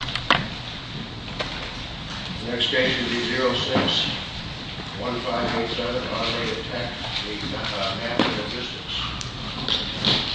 The next station is E06-1587, automated tech v. Knapp Logistics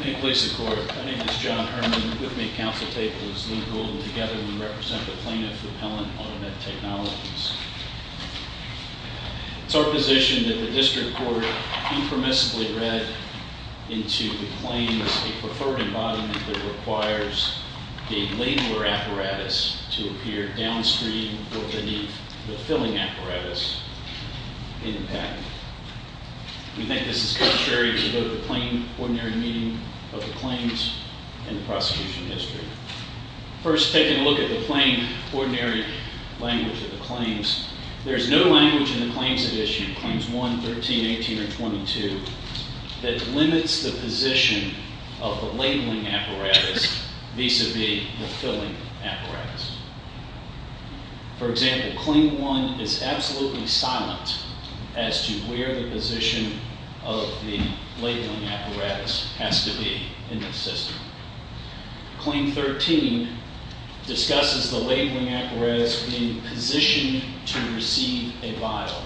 May it please the court, my name is John Herman and with me at council table is Luke Golden. At this time, I would like to call together and represent the plaintiff, Appellant Automated Technologies. It's our position that the district court impermissibly read into the claims a preferred embodiment that requires a labeler apparatus to appear downstream or beneath the filling apparatus in the patent. We think this is necessary to go to the plain ordinary meaning of the claims in the prosecution history. First, taking a look at the plain ordinary language of the claims, there is no language in the claims that issue claims 1, 13, 18, or 22 that limits the position of the labeling apparatus vis-a-vis the filling apparatus. For example, claim 1 is absolutely silent as to where the position of the labeling apparatus has to be in the system. Claim 13 discusses the labeling apparatus being positioned to receive a vial.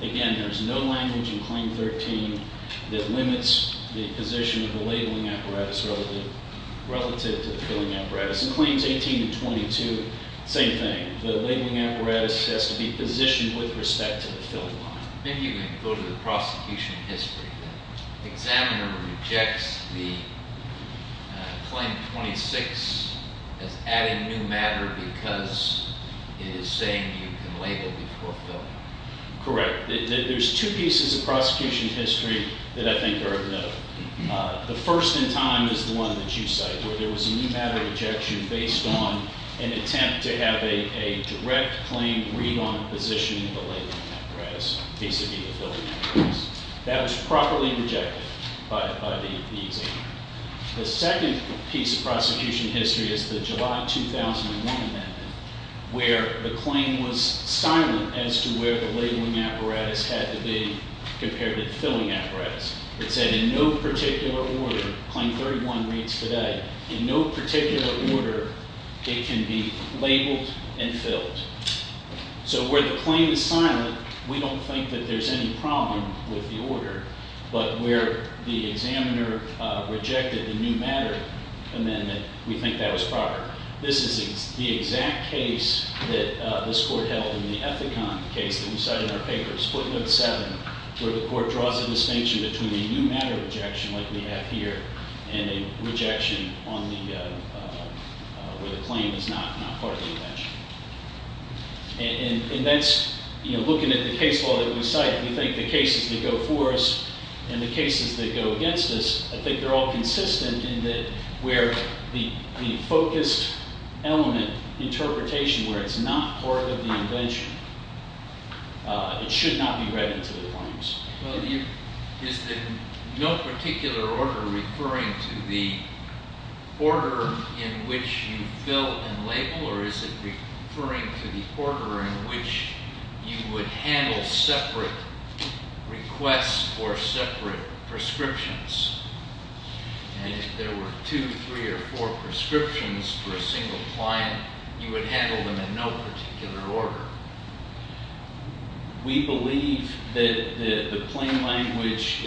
Again, there is no language in claim 13 that limits the position of the labeling apparatus relative to the filling apparatus. In claims 18 and 22, same thing. The labeling apparatus has to be positioned with respect to the filling line. Maybe you can go to the prosecution history. The examiner rejects the claim 26 as adding new matter because it is saying you can label before filling. Correct. There's two pieces of prosecution history that I think are of note. The first in time is the one that you cite, where there was a new matter rejection based on an attempt to have a direct claim read on the position of the labeling apparatus vis-a-vis the filling apparatus. That was properly rejected by the examiner. The second piece of prosecution history is the July 2001 amendment, where the claim was silent as to where the labeling apparatus had to be compared to the filling apparatus. It said in no particular order, claim 31 reads today, in no particular order it can be labeled and filled. So where the claim is silent, we don't think that there's any problem with the order. But where the examiner rejected the new matter amendment, we think that was proper. This is the exact case that this court held in the Ethicon case that we cite in our paper, Split Note 7, where the court draws a distinction between a new matter rejection like we have here and a rejection where the claim is not part of the invention. And that's looking at the case law that we cite, we think the cases that go for us and the cases that go against us, I think they're all consistent in that where the focused element interpretation where it's not part of the invention, it should not be read into the claims. Is the no particular order referring to the order in which you fill and label, or is it referring to the order in which you would handle separate requests for separate prescriptions? And if there were two, three, or four prescriptions for a single client, you would handle them in no particular order. We believe that the plain language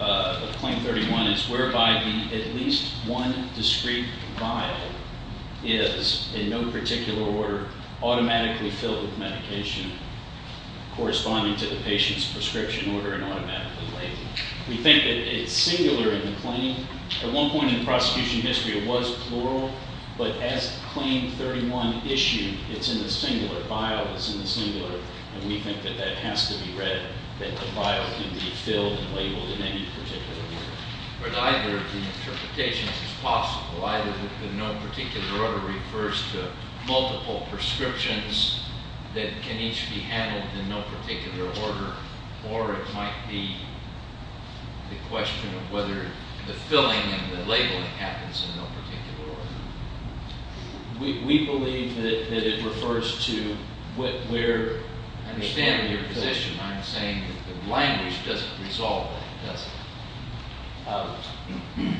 of Claim 31 is whereby at least one discrete vial is, in no particular order, automatically filled with medication corresponding to the patient's prescription order and automatically labeled. We think that it's singular in the claim. At one point in the prosecution history, it was plural, but as Claim 31 issued, it's in the singular vial, it's in the singular, and we think that that has to be read, that the vial can be filled and labeled in any particular order. But either the interpretation is possible, either the no particular order refers to multiple prescriptions that can each be handled in no particular order, or it might be the question of whether the filling and the labeling happens in no particular order. We believe that it refers to where- I understand your position. I'm saying that the language doesn't resolve it, does it?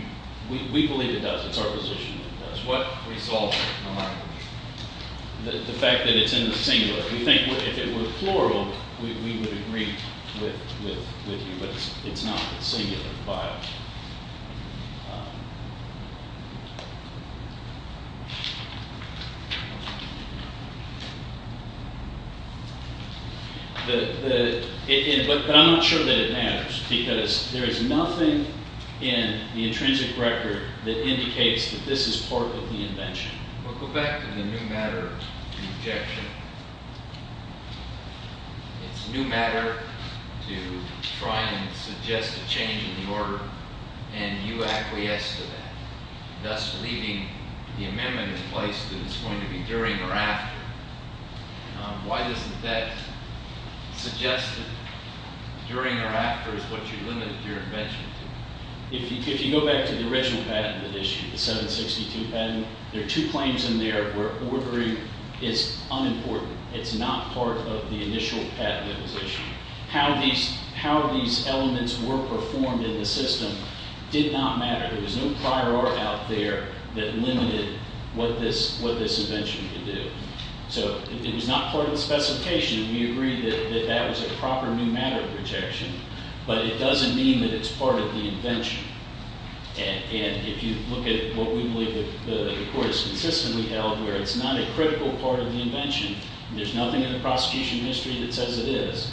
We believe it does. It's our position that it does. What resolves it? The fact that it's in the singular. We think if it were plural, we would agree with you, but it's not. It's singular, the vial. But I'm not sure that it matters, because there is nothing in the intrinsic record that indicates that this is part of the invention. We'll go back to the new matter objection. It's new matter to try and suggest a change in the order, and you acquiesce to that, thus leaving the amendment in place that it's going to be during or after. Why doesn't that suggest that during or after is what you limited your invention to? If you go back to the original patent that issued, the 762 patent, there are two claims in there where ordering is unimportant. It's not part of the initial patent that was issued. How these elements were performed in the system did not matter. There was no prior art out there that limited what this invention could do. So it was not part of the specification, and we agree that that was a proper new matter objection, but it doesn't mean that it's part of the invention. And if you look at what we believe that the Court has consistently held, where it's not a critical part of the invention, there's nothing in the prosecution history that says it is.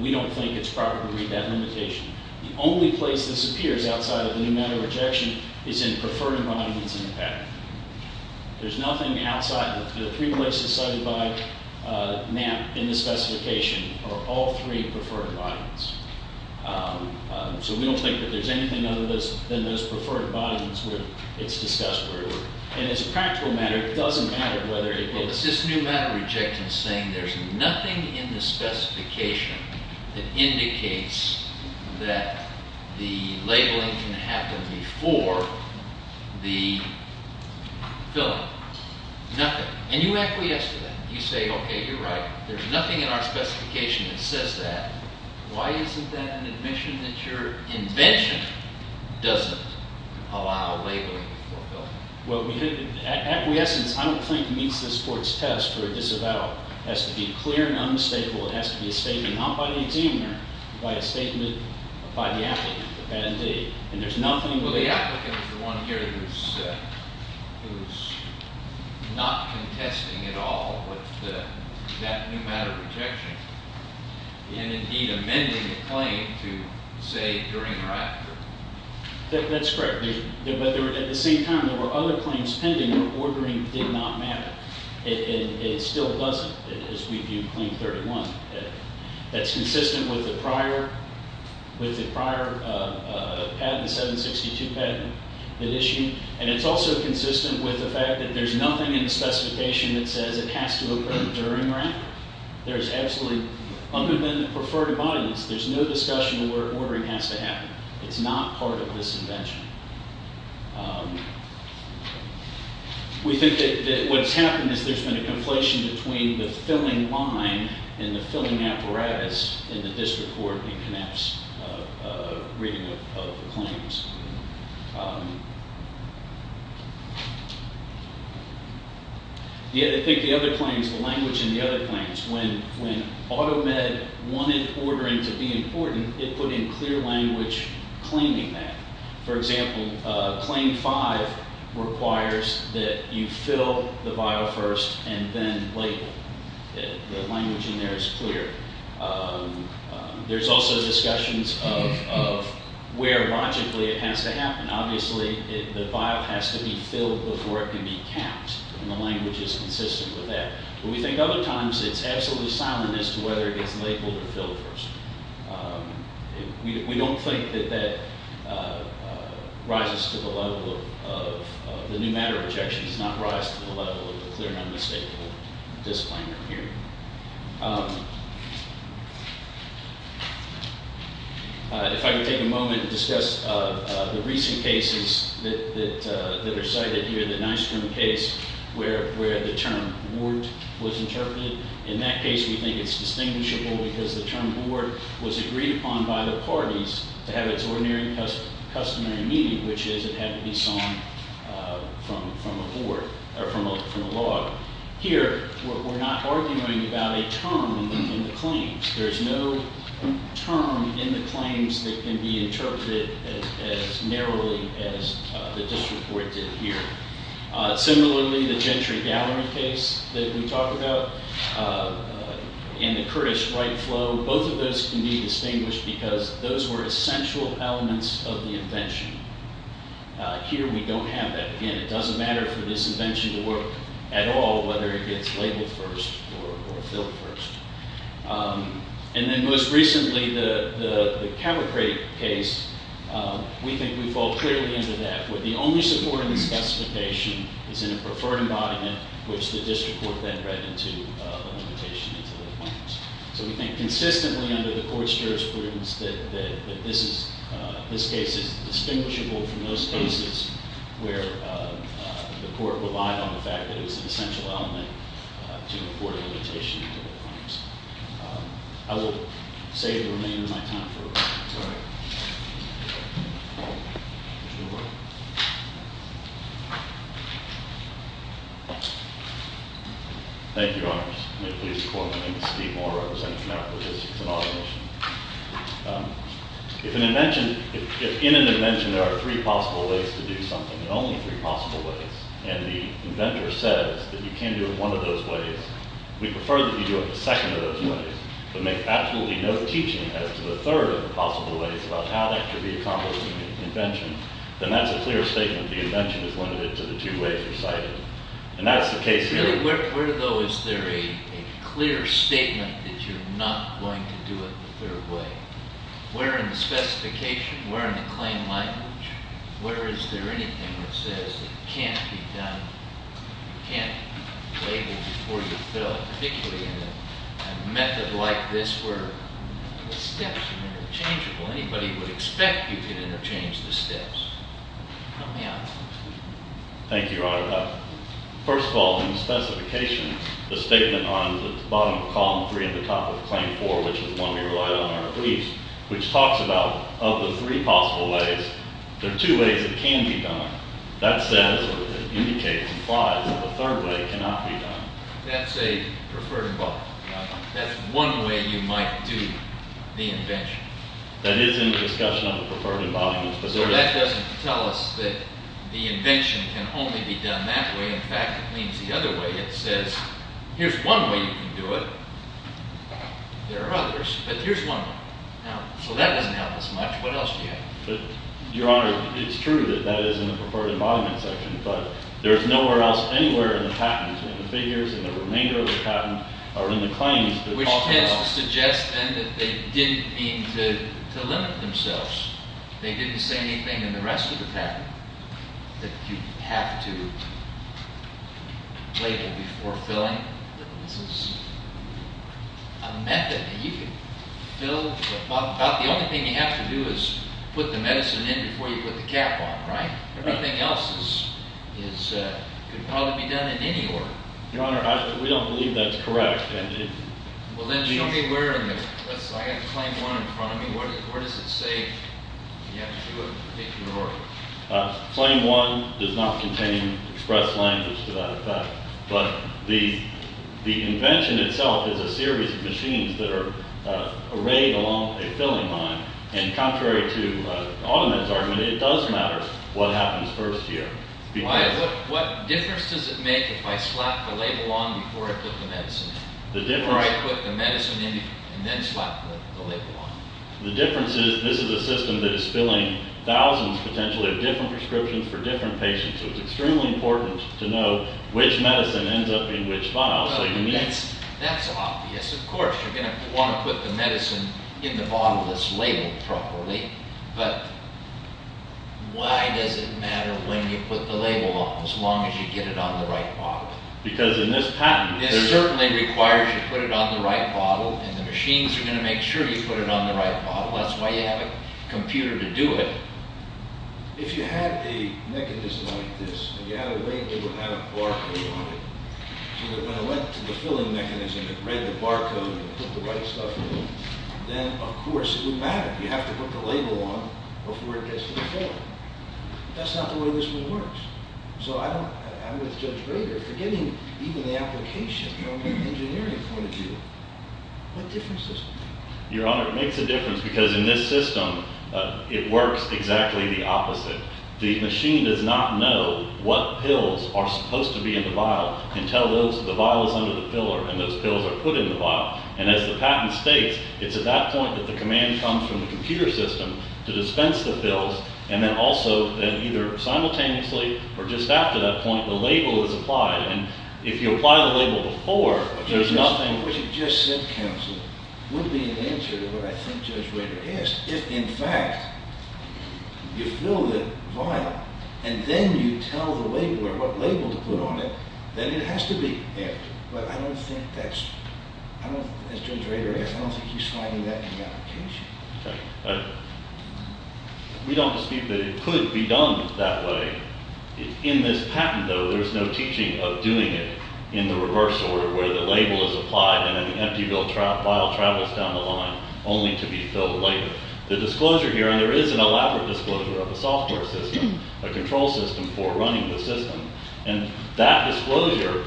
We don't think it's proper to read that limitation. The only place this appears outside of the new matter objection is in preferred environments in the patent. There's nothing outside. The three places cited by NAMP in the specification are all three preferred environments. So we don't think that there's anything other than those preferred environments where it's discussed. And as a practical matter, it doesn't matter whether it is. What's this new matter objection saying? There's nothing in the specification that indicates that the labeling can happen before the filling. Nothing. And you acquiesce to that. You say, okay, you're right. There's nothing in our specification that says that. Why isn't that an admission that your invention doesn't allow labeling before filling? Well, acquiescence, I don't think, meets this Court's test for a disavowal. It has to be clear and unmistakable. It has to be a statement not by the examiner, but a statement by the applicant, the patentee. And there's nothing- Well, the applicant is the one here who's not contesting at all with that new matter objection, and indeed amending the claim to say during or after. That's correct. But at the same time, there were other claims pending where ordering did not matter. It still doesn't, as we view Claim 31. That's consistent with the prior patent, the 762 patent that issued. And it's also consistent with the fact that there's nothing in the specification that says it has to occur during or after. There's absolutely, other than the preferred environments, there's no discussion where ordering has to happen. It's not part of this invention. We think that what's happened is there's been a conflation between the filling line and the filling apparatus, and that this Court connects a reading of the claims. I think the other claims, the language in the other claims, when AutoMed wanted ordering to be important, it put in clear language claiming that. For example, Claim 5 requires that you fill the vial first and then label. The language in there is clear. There's also discussions of where logically it has to happen. Obviously, the vial has to be filled before it can be capped, and the language is consistent with that. But we think other times it's absolutely silent as to whether it gets labeled or filled first. We don't think that that rises to the level of the new matter objections, not rise to the level of the clear and unmistakable disciplinary hearing. If I could take a moment to discuss the recent cases that are cited here, the Nystrom case where the term ward was interpreted. In that case, we think it's distinguishable because the term ward was agreed upon by the parties to have its ordinary customary meaning, which is it had to be sung from a ward or from a log. Here, we're not arguing about a term in the claims. There's no term in the claims that can be interpreted as narrowly as the district court did here. Similarly, the Gentry Gallery case that we talked about and the Kurdish right flow, both of those can be distinguished because those were essential elements of the invention. Here, we don't have that. Again, it doesn't matter for this invention to work at all, whether it gets labeled first or filled first. And then most recently, the Capricrate case, we think we fall clearly into that where the only support in the specification is in a preferred embodiment, which the district court then read into a limitation into the claims. So we think consistently under the court's jurisprudence that this case is distinguishable from those cases where the court relied on the fact that it was an essential element to afford a limitation into the claims. I will save the remainder of my time for a question. Sorry. Thank you, Your Honors. May it please the Court, my name is Steve Moore. I represent the Department of Logistics and Automation. If in an invention, there are three possible ways to do something, and only three possible ways, and the inventor says that you can't do it one of those ways, we prefer that you do it the second of those ways, but make absolutely no teaching as to the third of the possible ways about how that could be accomplished in an invention, then that's a clear statement. The invention is limited to the two ways you cite it. And that's the case here. Where, though, is there a clear statement that you're not going to do it the third way? Where in the specification? Where in the claim language? Where is there anything that says it can't be done, can't be labeled before you fill it? Particularly in a method like this where the steps are interchangeable. Anybody would expect you could interchange the steps. Help me out. Thank you, Your Honor. First of all, in the specification, the statement on the bottom of Column 3 and the top of Claim 4, which is the one we relied on in our briefs, which talks about of the three possible ways, there are two ways it can be done. That says, or indicates, implies, that the third way cannot be done. That's a preferred involvement. That's one way you might do the invention. That is in the discussion of the preferred involvement. But that doesn't tell us that the invention can only be done that way. In fact, it means the other way. It says, here's one way you can do it. There are others. But here's one way. So that doesn't help us much. What else do you have? Your Honor, it's true that that is in the preferred involvement section. But there's nowhere else anywhere in the patent, in the figures, in the remainder of the patent, or in the claims. Which tends to suggest, then, that they didn't mean to limit themselves. They didn't say anything in the rest of the patent that you have to label before filling. That this is a method that you can fill. The only thing you have to do is put the medicine in before you put the cap on, right? Everything else could probably be done in any order. Your Honor, we don't believe that's correct. Well, then, show me where in this. I've got Claim 1 in front of me. Where does it say you have to do a particular order? Claim 1 does not contain express language to that effect. But the invention itself is a series of machines that are arrayed along a filling line. And contrary to AutoMed's argument, it does matter what happens first here. What difference does it make if I slap the label on before I put the medicine in? Or I put the medicine in and then slap the label on? The difference is this is a system that is filling thousands, potentially, of different prescriptions for different patients. So it's extremely important to know which medicine ends up in which file. That's obvious. Of course, you're going to want to put the medicine in the bottle that's labeled properly. But why does it matter when you put the label on as long as you get it on the right bottle? Because in this patent... It certainly requires you put it on the right bottle. And the machines are going to make sure you put it on the right bottle. That's why you have a computer to do it. If you had a mechanism like this, and you had a label that had a barcode on it, so that when I went to the filling mechanism and read the barcode and put the right stuff in, then, of course, it would matter. You have to put the label on before it gets to the filler. That's not the way this one works. So I'm with Judge Rader. Forgetting even the application, you know, engineering point of view. What difference does it make? Your Honor, it makes a difference because in this system, it works exactly the opposite. The machine does not know what pills are supposed to be in the vial until the vial is under the filler and those pills are put in the vial. And as the patent states, it's at that point that the command comes from the computer system to dispense the pills, and then also then either simultaneously or just after that point, the label is applied. And if you apply the label before, there's nothing... What you just said, counsel, would be an answer to what I think Judge Rader asked. If, in fact, you fill the vial and then you tell the label or what label to put on it, then it has to be emptied. But I don't think that's... As Judge Rader asked, I don't think he's finding that in the application. We don't dispute that it could be done that way. In this patent, though, there's no teaching of doing it in the reverse order where the label is applied and then the empty vial travels down the line only to be filled later. The disclosure here, and there is an elaborate disclosure of a software system, a control system for running the system, and that disclosure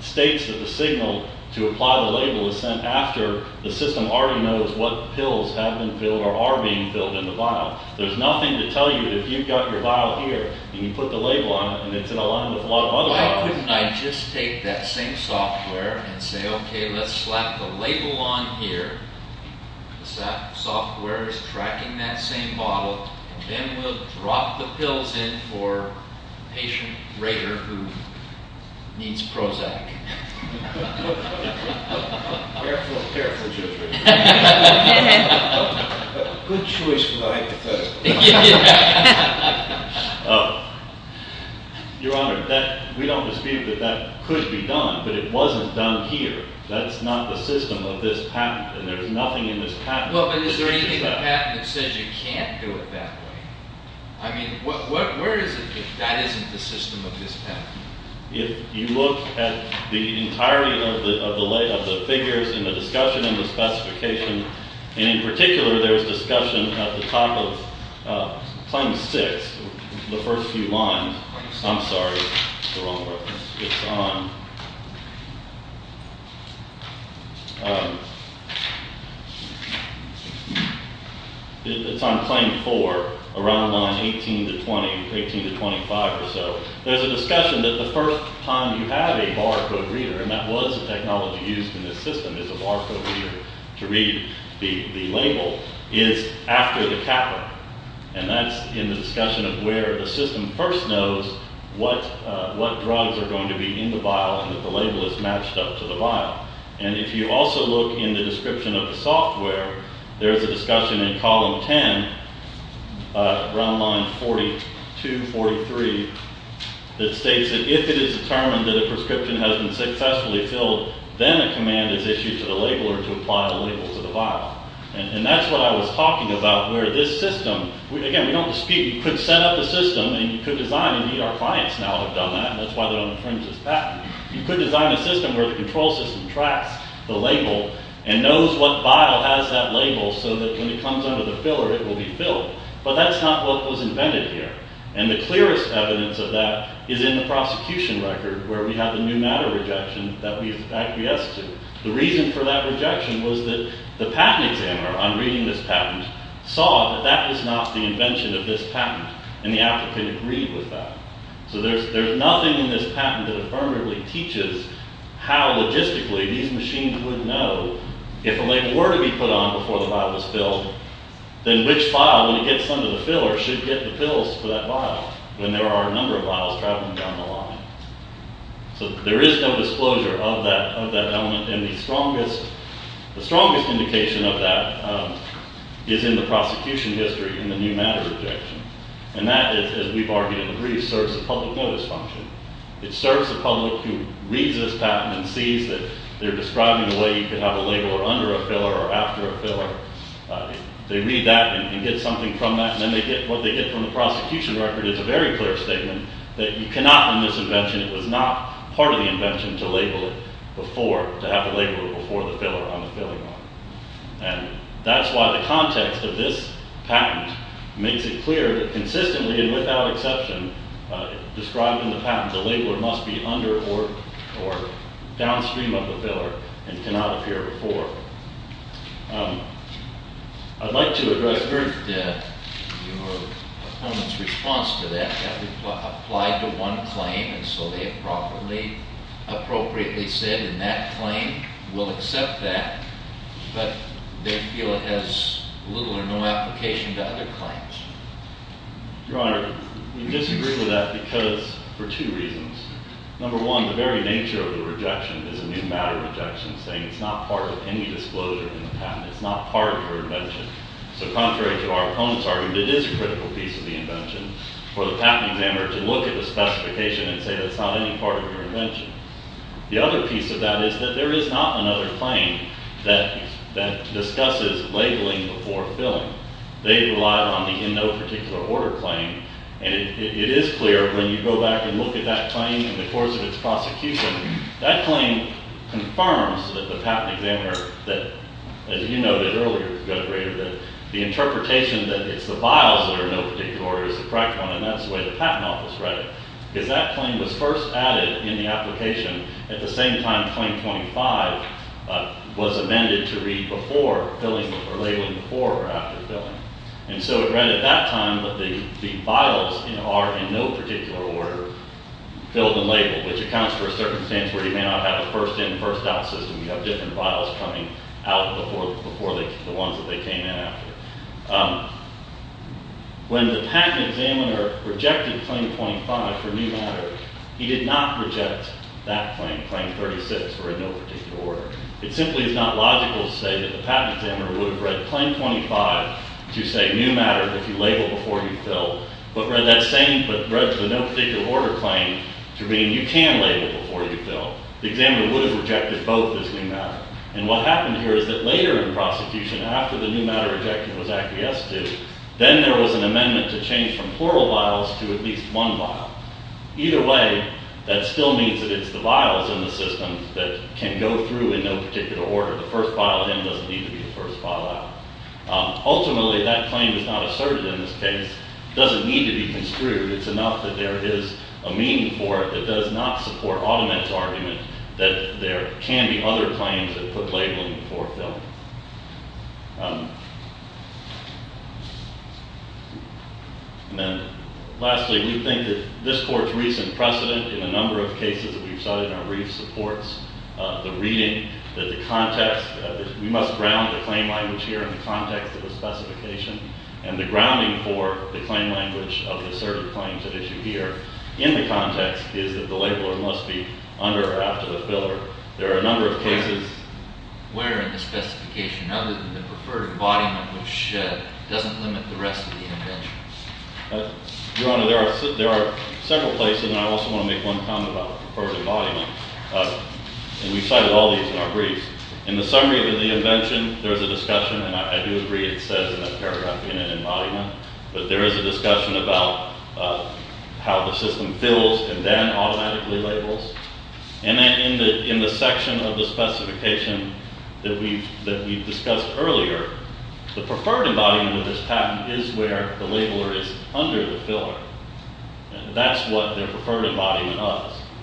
states that the signal to apply the label is sent after the system already knows what pills have been filled or are being filled in the vial. There's nothing to tell you that if you've got your vial here and you put the label on it and it's in alignment with a lot of other vials. Why couldn't I just take that same software and say, okay, let's slap the label on here because that software is tracking that same bottle, and then we'll drop the pills in for patient Rader who needs Prozac. Careful, careful, Judge Rader. Good choice for my hypothetical. Your Honor, we don't dispute that that could be done, but it wasn't done here. That's not the system of this patent, and there's nothing in this patent that teaches that. Well, but is there anything in the patent that says you can't do it that way? I mean, where is it that that isn't the system of this patent? If you look at the entirety of the figures in the discussion and the specification, and in particular there was discussion at the top of Claim 6, the first few lines. I'm sorry, it's the wrong reference. It's on. It's on Claim 4, around line 18 to 20, 18 to 25 or so. There's a discussion that the first time you have a barcode reader, and that was a technology used in this system as a barcode reader to read the label, is after the capital, and that's in the discussion of where the system first knows what drugs are going to be in the vial and that the label is matched up to the vial. And if you also look in the description of the software, there's a discussion in column 10, around line 42, 43, that states that if it is determined that a prescription has been successfully filled, then a command is issued to the labeler to apply the label to the vial. And that's what I was talking about, where this system, again, we don't dispute, you could set up a system, and you could design it. Indeed, our clients now have done that, and that's why they're on the fringes of that. You could design a system where the control system tracks the label and knows what vial has that label so that when it comes under the filler, it will be filled. But that's not what was invented here, and the clearest evidence of that is in the prosecution record, where we have the new matter rejection that we've acquiesced to. The reason for that rejection was that the patent examiner, on reading this patent, saw that that was not the invention of this patent, and the applicant agreed with that. So there's nothing in this patent that affirmatively teaches how logistically these machines would know if a label were to be put on before the vial was filled, then which vial, when it gets under the filler, should get the pills for that vial, when there are a number of vials traveling down the line. So there is no disclosure of that element, and the strongest indication of that is in the prosecution history in the new matter rejection, and that is, as we've argued in the briefs, serves the public notice function. It serves the public who reads this patent and sees that they're describing the way you could have a label under a filler or after a filler. They read that and get something from that, and then what they get from the prosecution record is a very clear statement that you cannot in this invention, it was not part of the invention to label it before, to have the label before the filler on the filling line. And that's why the context of this patent makes it clear that consistently and without exception, described in the patent, the label must be under or downstream of the filler and cannot appear before. I'd like to address your opponent's response to that. That would apply to one claim, and so they have properly, appropriately said in that claim, we'll accept that, but they feel it has little or no application to other claims. Your Honor, we disagree with that because, for two reasons. Number one, the very nature of the rejection is a new matter rejection, saying it's not part of any disclosure in the patent, it's not part of your invention. So contrary to our opponent's argument, it is a critical piece of the invention. For the patent examiner to look at the specification and say that's not any part of your invention. The other piece of that is that there is not another claim that discusses labeling before filling. They relied on the in no particular order claim, and it is clear when you go back and look at that claim in the course of its prosecution, that claim confirms that the patent examiner, that as you noted earlier, Judge Rader, that the interpretation that it's the vials that are in no particular order is the correct one, and that's the way the patent office read it, because that claim was first added in the application at the same time claim 25 was amended to read before filling or labeling before or after filling. And so it read at that time that the vials are in no particular order, filled and labeled, which accounts for a circumstance where you may not have a first in, first out system. You have different vials coming out before the ones that they came in after. When the patent examiner rejected claim 25 for new matter, he did not reject that claim, claim 36 for in no particular order. It simply is not logical to say that the patent examiner would have read claim 25 to say new matter, if you label before you fill, but read that same, but read the no particular order claim to mean you can label before you fill. The examiner would have rejected both as new matter. And what happened here is that later in prosecution, after the new matter rejected was acquiesced to, then there was an amendment to change from plural vials to at least one vial. Either way, that still means that it's the vials in the system that can go through in no particular order. The first vial in doesn't need to be the first vial out. Ultimately, that claim is not asserted in this case. It doesn't need to be construed. It's enough that there is a meaning for it that does not support automatic argument that there can be other claims that put labeling before filling. And then lastly, we think that this Court's recent precedent in a number of cases that we've studied in our brief supports the reading, that the context, we must ground the claim language here in the context of the specification and the grounding for the claim language of the asserted claims that issue here in the context is that the labeler must be under or after the filler. There are a number of cases where in the specification, other than the preferred embodiment, which doesn't limit the rest of the invention. Your Honor, there are several places, and I also want to make one comment about preferred embodiment. And we've cited all these in our briefs. In the summary of the invention, there is a discussion, and I do agree it says in the paragraph, in an embodiment, but there is a discussion about how the system fills and then automatically labels. And in the section of the specification that we've discussed earlier, the preferred embodiment of this patent is where the labeler is under the filler. That's what their preferred embodiment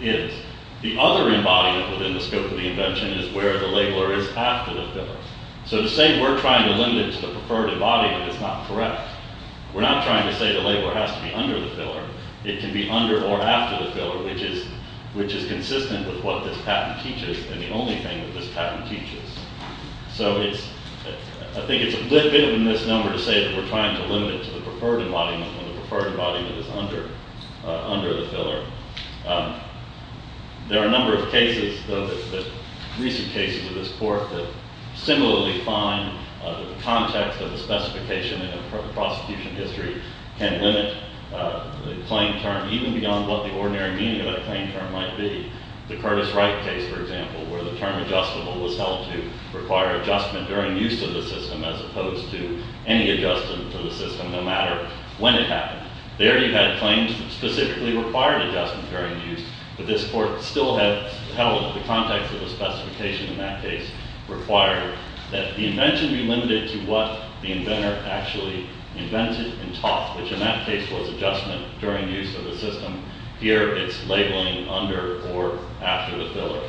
is. The other embodiment within the scope of the invention is where the labeler is after the filler. So to say we're trying to limit it to the preferred embodiment is not correct. We're not trying to say the labeler has to be under the filler. It can be under or after the filler, which is consistent with what this patent teaches and the only thing that this patent teaches. So I think it's a bit of a misnomer to say that we're trying to limit it to the preferred embodiment when the preferred embodiment is under the filler. There are a number of cases, though, recent cases of this court that similarly find that the context of the specification in the prosecution history can limit the claim term even beyond what the ordinary meaning of that claim term might be. The Curtis Wright case, for example, where the term adjustable was held to require adjustment during use of the system as opposed to any adjustment to the system no matter when it happened. There you had claims that specifically required adjustment during use, but this court still held the context of the specification in that case required that the invention be limited to what the inventor actually invented and taught, which in that case was adjustment during use of the system. Here it's labeling under or after the filler.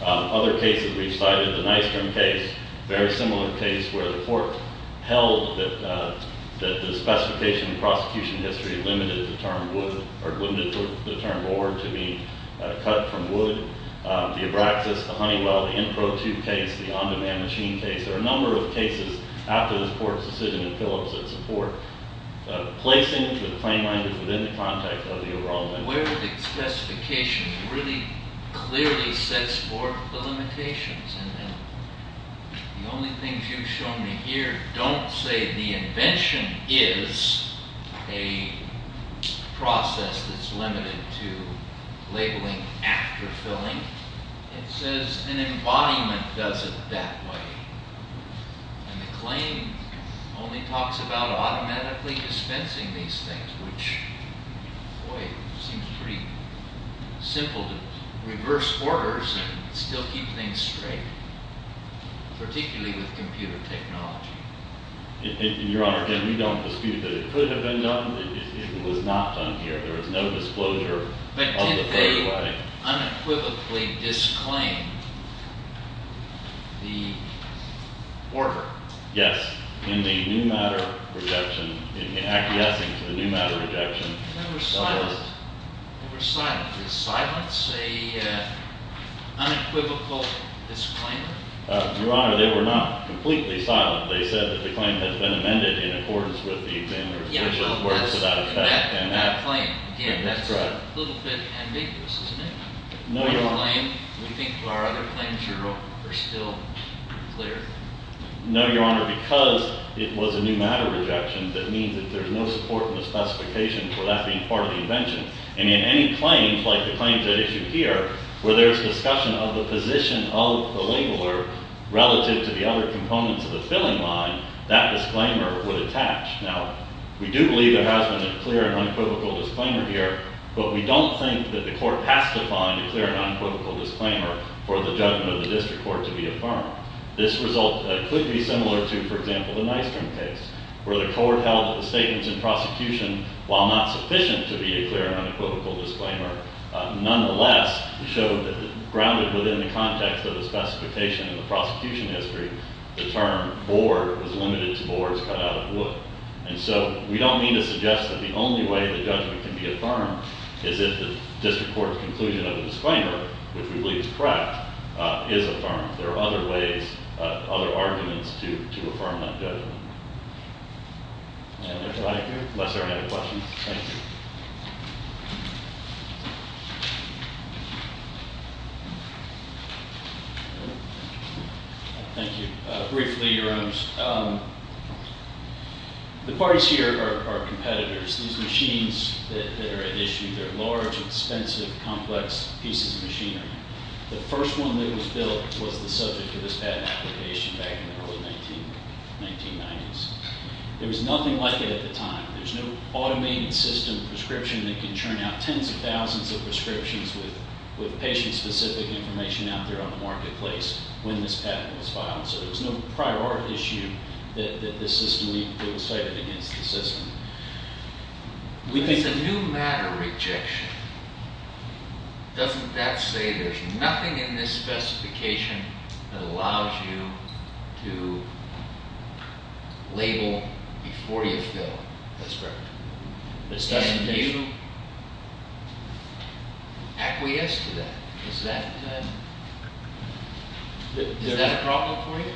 Other cases we've cited, the Nystrom case, a very similar case where the court held that the specification in the prosecution history limited the term board to be cut from wood. The Abraxas, the Honeywell, the INPRO 2 case, the on-demand machine case. There are a number of cases after this court's decision to fill it with support. Placing the claim language within the context of the overall language. Where the specification really clearly sets forth the limitations and the only things you've shown me here don't say the invention is a process that's limited to labeling after filling. It says an embodiment does it that way. And the claim only talks about automatically dispensing these things, which seems pretty simple to reverse orders and still keep things straight, particularly with computer technology. Your Honor, again, we don't dispute that it could have been done. It was not done here. There was no disclosure of the first way. But didn't they unequivocally disclaim the order? Yes, in the new matter rejection, in the acquiescing to the new matter rejection. They were silent. They were silent. Is silence an unequivocal disclaimer? Your Honor, they were not completely silent. They said that the claim had been amended in accordance with the examiner's official words without effect. That claim, again, that's a little bit ambiguous, isn't it? No, Your Honor. Do you think our other claims are still clear? No, Your Honor, because it was a new matter rejection, that means that there's no support in the specification for that being part of the invention. And in any claim, like the claims at issue here, where there's discussion of the position of the labeler relative to the other components of the filling line, that disclaimer would attach. Now, we do believe there has been a clear and unequivocal disclaimer here, but we don't think that the court has to find a clear and unequivocal disclaimer for the judgment of the district court to be affirmed. This result could be similar to, for example, the Nystrom case, where the court held that the statements in prosecution, while not sufficient to be a clear and unequivocal disclaimer, nonetheless showed that grounded within the context of the specification in the prosecution history, And so we don't mean to suggest that the only way the judgment can be affirmed is if the district court's conclusion of the disclaimer, which we believe is correct, is affirmed. There are other ways, other arguments to affirm that judgment. Thank you. Sorry, I had a question. Thank you. Thank you. Briefly, Your Honors. The parties here are competitors. These machines that are at issue, they're large, expensive, complex pieces of machinery. The first one that was built was the subject of this patent application back in the early 1990s. There was nothing like it at the time. There's no automated system prescription that can churn out tens of thousands of prescriptions with patient-specific information out there on the marketplace when this patent was filed. So there was no prior art issue that this system, that was cited against the system. It's a new matter rejection. Doesn't that say there's nothing in this specification that allows you to label before you fill? That's correct. Do you acquiesce to that? Is that a problem for you?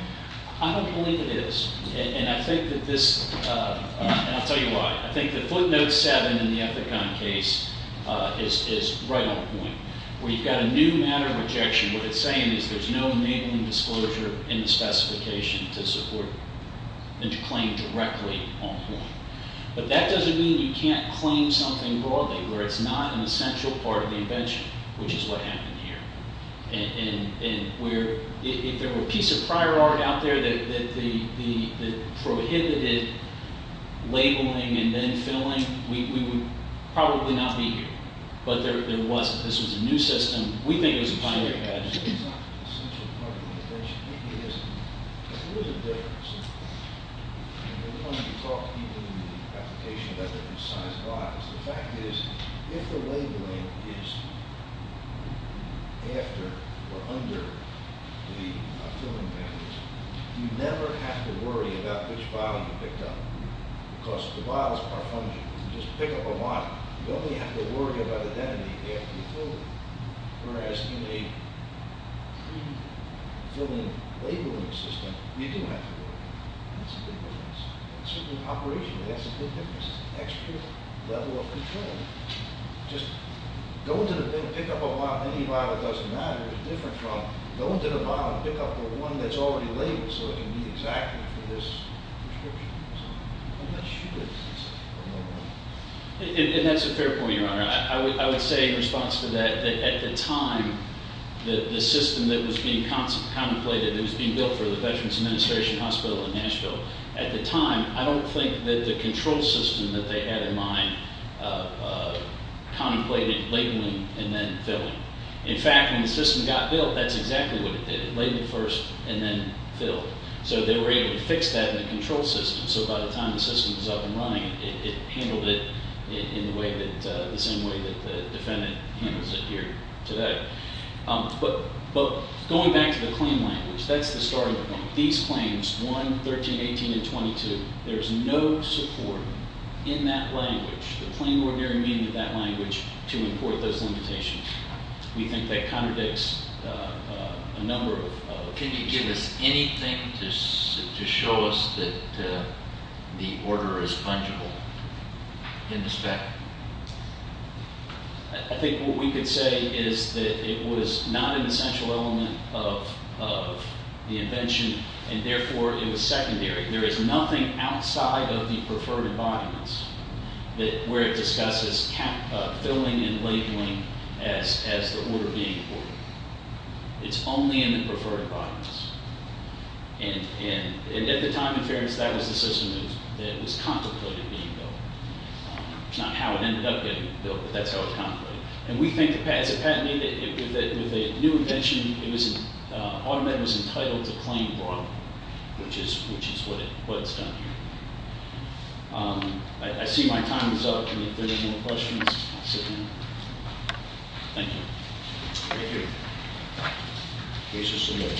I don't believe it is. And I think that this, and I'll tell you why. I think that footnote 7 in the Ethicon case is right on point. Where you've got a new matter of rejection, what it's saying is there's no enabling disclosure in the specification to claim directly on point. But that doesn't mean you can't claim something broadly where it's not an essential part of the invention, which is what happened here. And if there were a piece of prior art out there that prohibited labeling and then filling, we would probably not be here. But this was a new system. We think it was a binary patent. It's not an essential part of the invention. It is. But there is a difference. And we want to be taught even in the application about the precise bias. The fact is, if the labeling is after or under the filling values, you never have to worry about which vial you picked up. Because the vials are fungible. You can just pick up a lot. You only have to worry about identity after you fill it. Whereas in a pre-filling labeling system, you do have to worry. That's a big difference. Certainly operationally, that's a big difference. It's an extra level of control. Just going to the bin, pick up a vial, any vial, it doesn't matter. It's different from going to the bottom and pick up the one that's already labeled so it can be exacted for this prescription. So unless you do this, it's a no-brainer. And that's a fair point, Your Honor. I would say in response to that, that at the time the system that was being contemplated that was being built for the Veterans Administration Hospital in Nashville, at the time, I don't think that the control system that they had in mind contemplated labeling and then filling. In fact, when the system got built, that's exactly what it did. It labeled first and then filled. So they were able to fix that in the control system. So by the time the system was up and running, it handled it in the same way that the defendant handles it here today. But going back to the claim language, that's the starting point. These claims, 1, 13, 18, and 22, there's no support in that language, the plain ordinary meaning of that language, to import those limitations. We think that contradicts a number of- Can you give us anything to show us that the order is fungible in this fact? I think what we could say is that it was not an essential element of the invention, and therefore it was secondary. There is nothing outside of the preferred embodiments where it discusses filling and labeling as the order being important. It's only in the preferred embodiments. And at the time, in fairness, that was the system that was contemplated being built. It's not how it ended up getting built, but that's how it was contemplated. And we think, as a patent, that with a new invention, AutoMed was entitled to claim broadly, which is what it's done here. I see my time is up. If there are no more questions, I'll sit down. Thank you. Thank you. This is the end.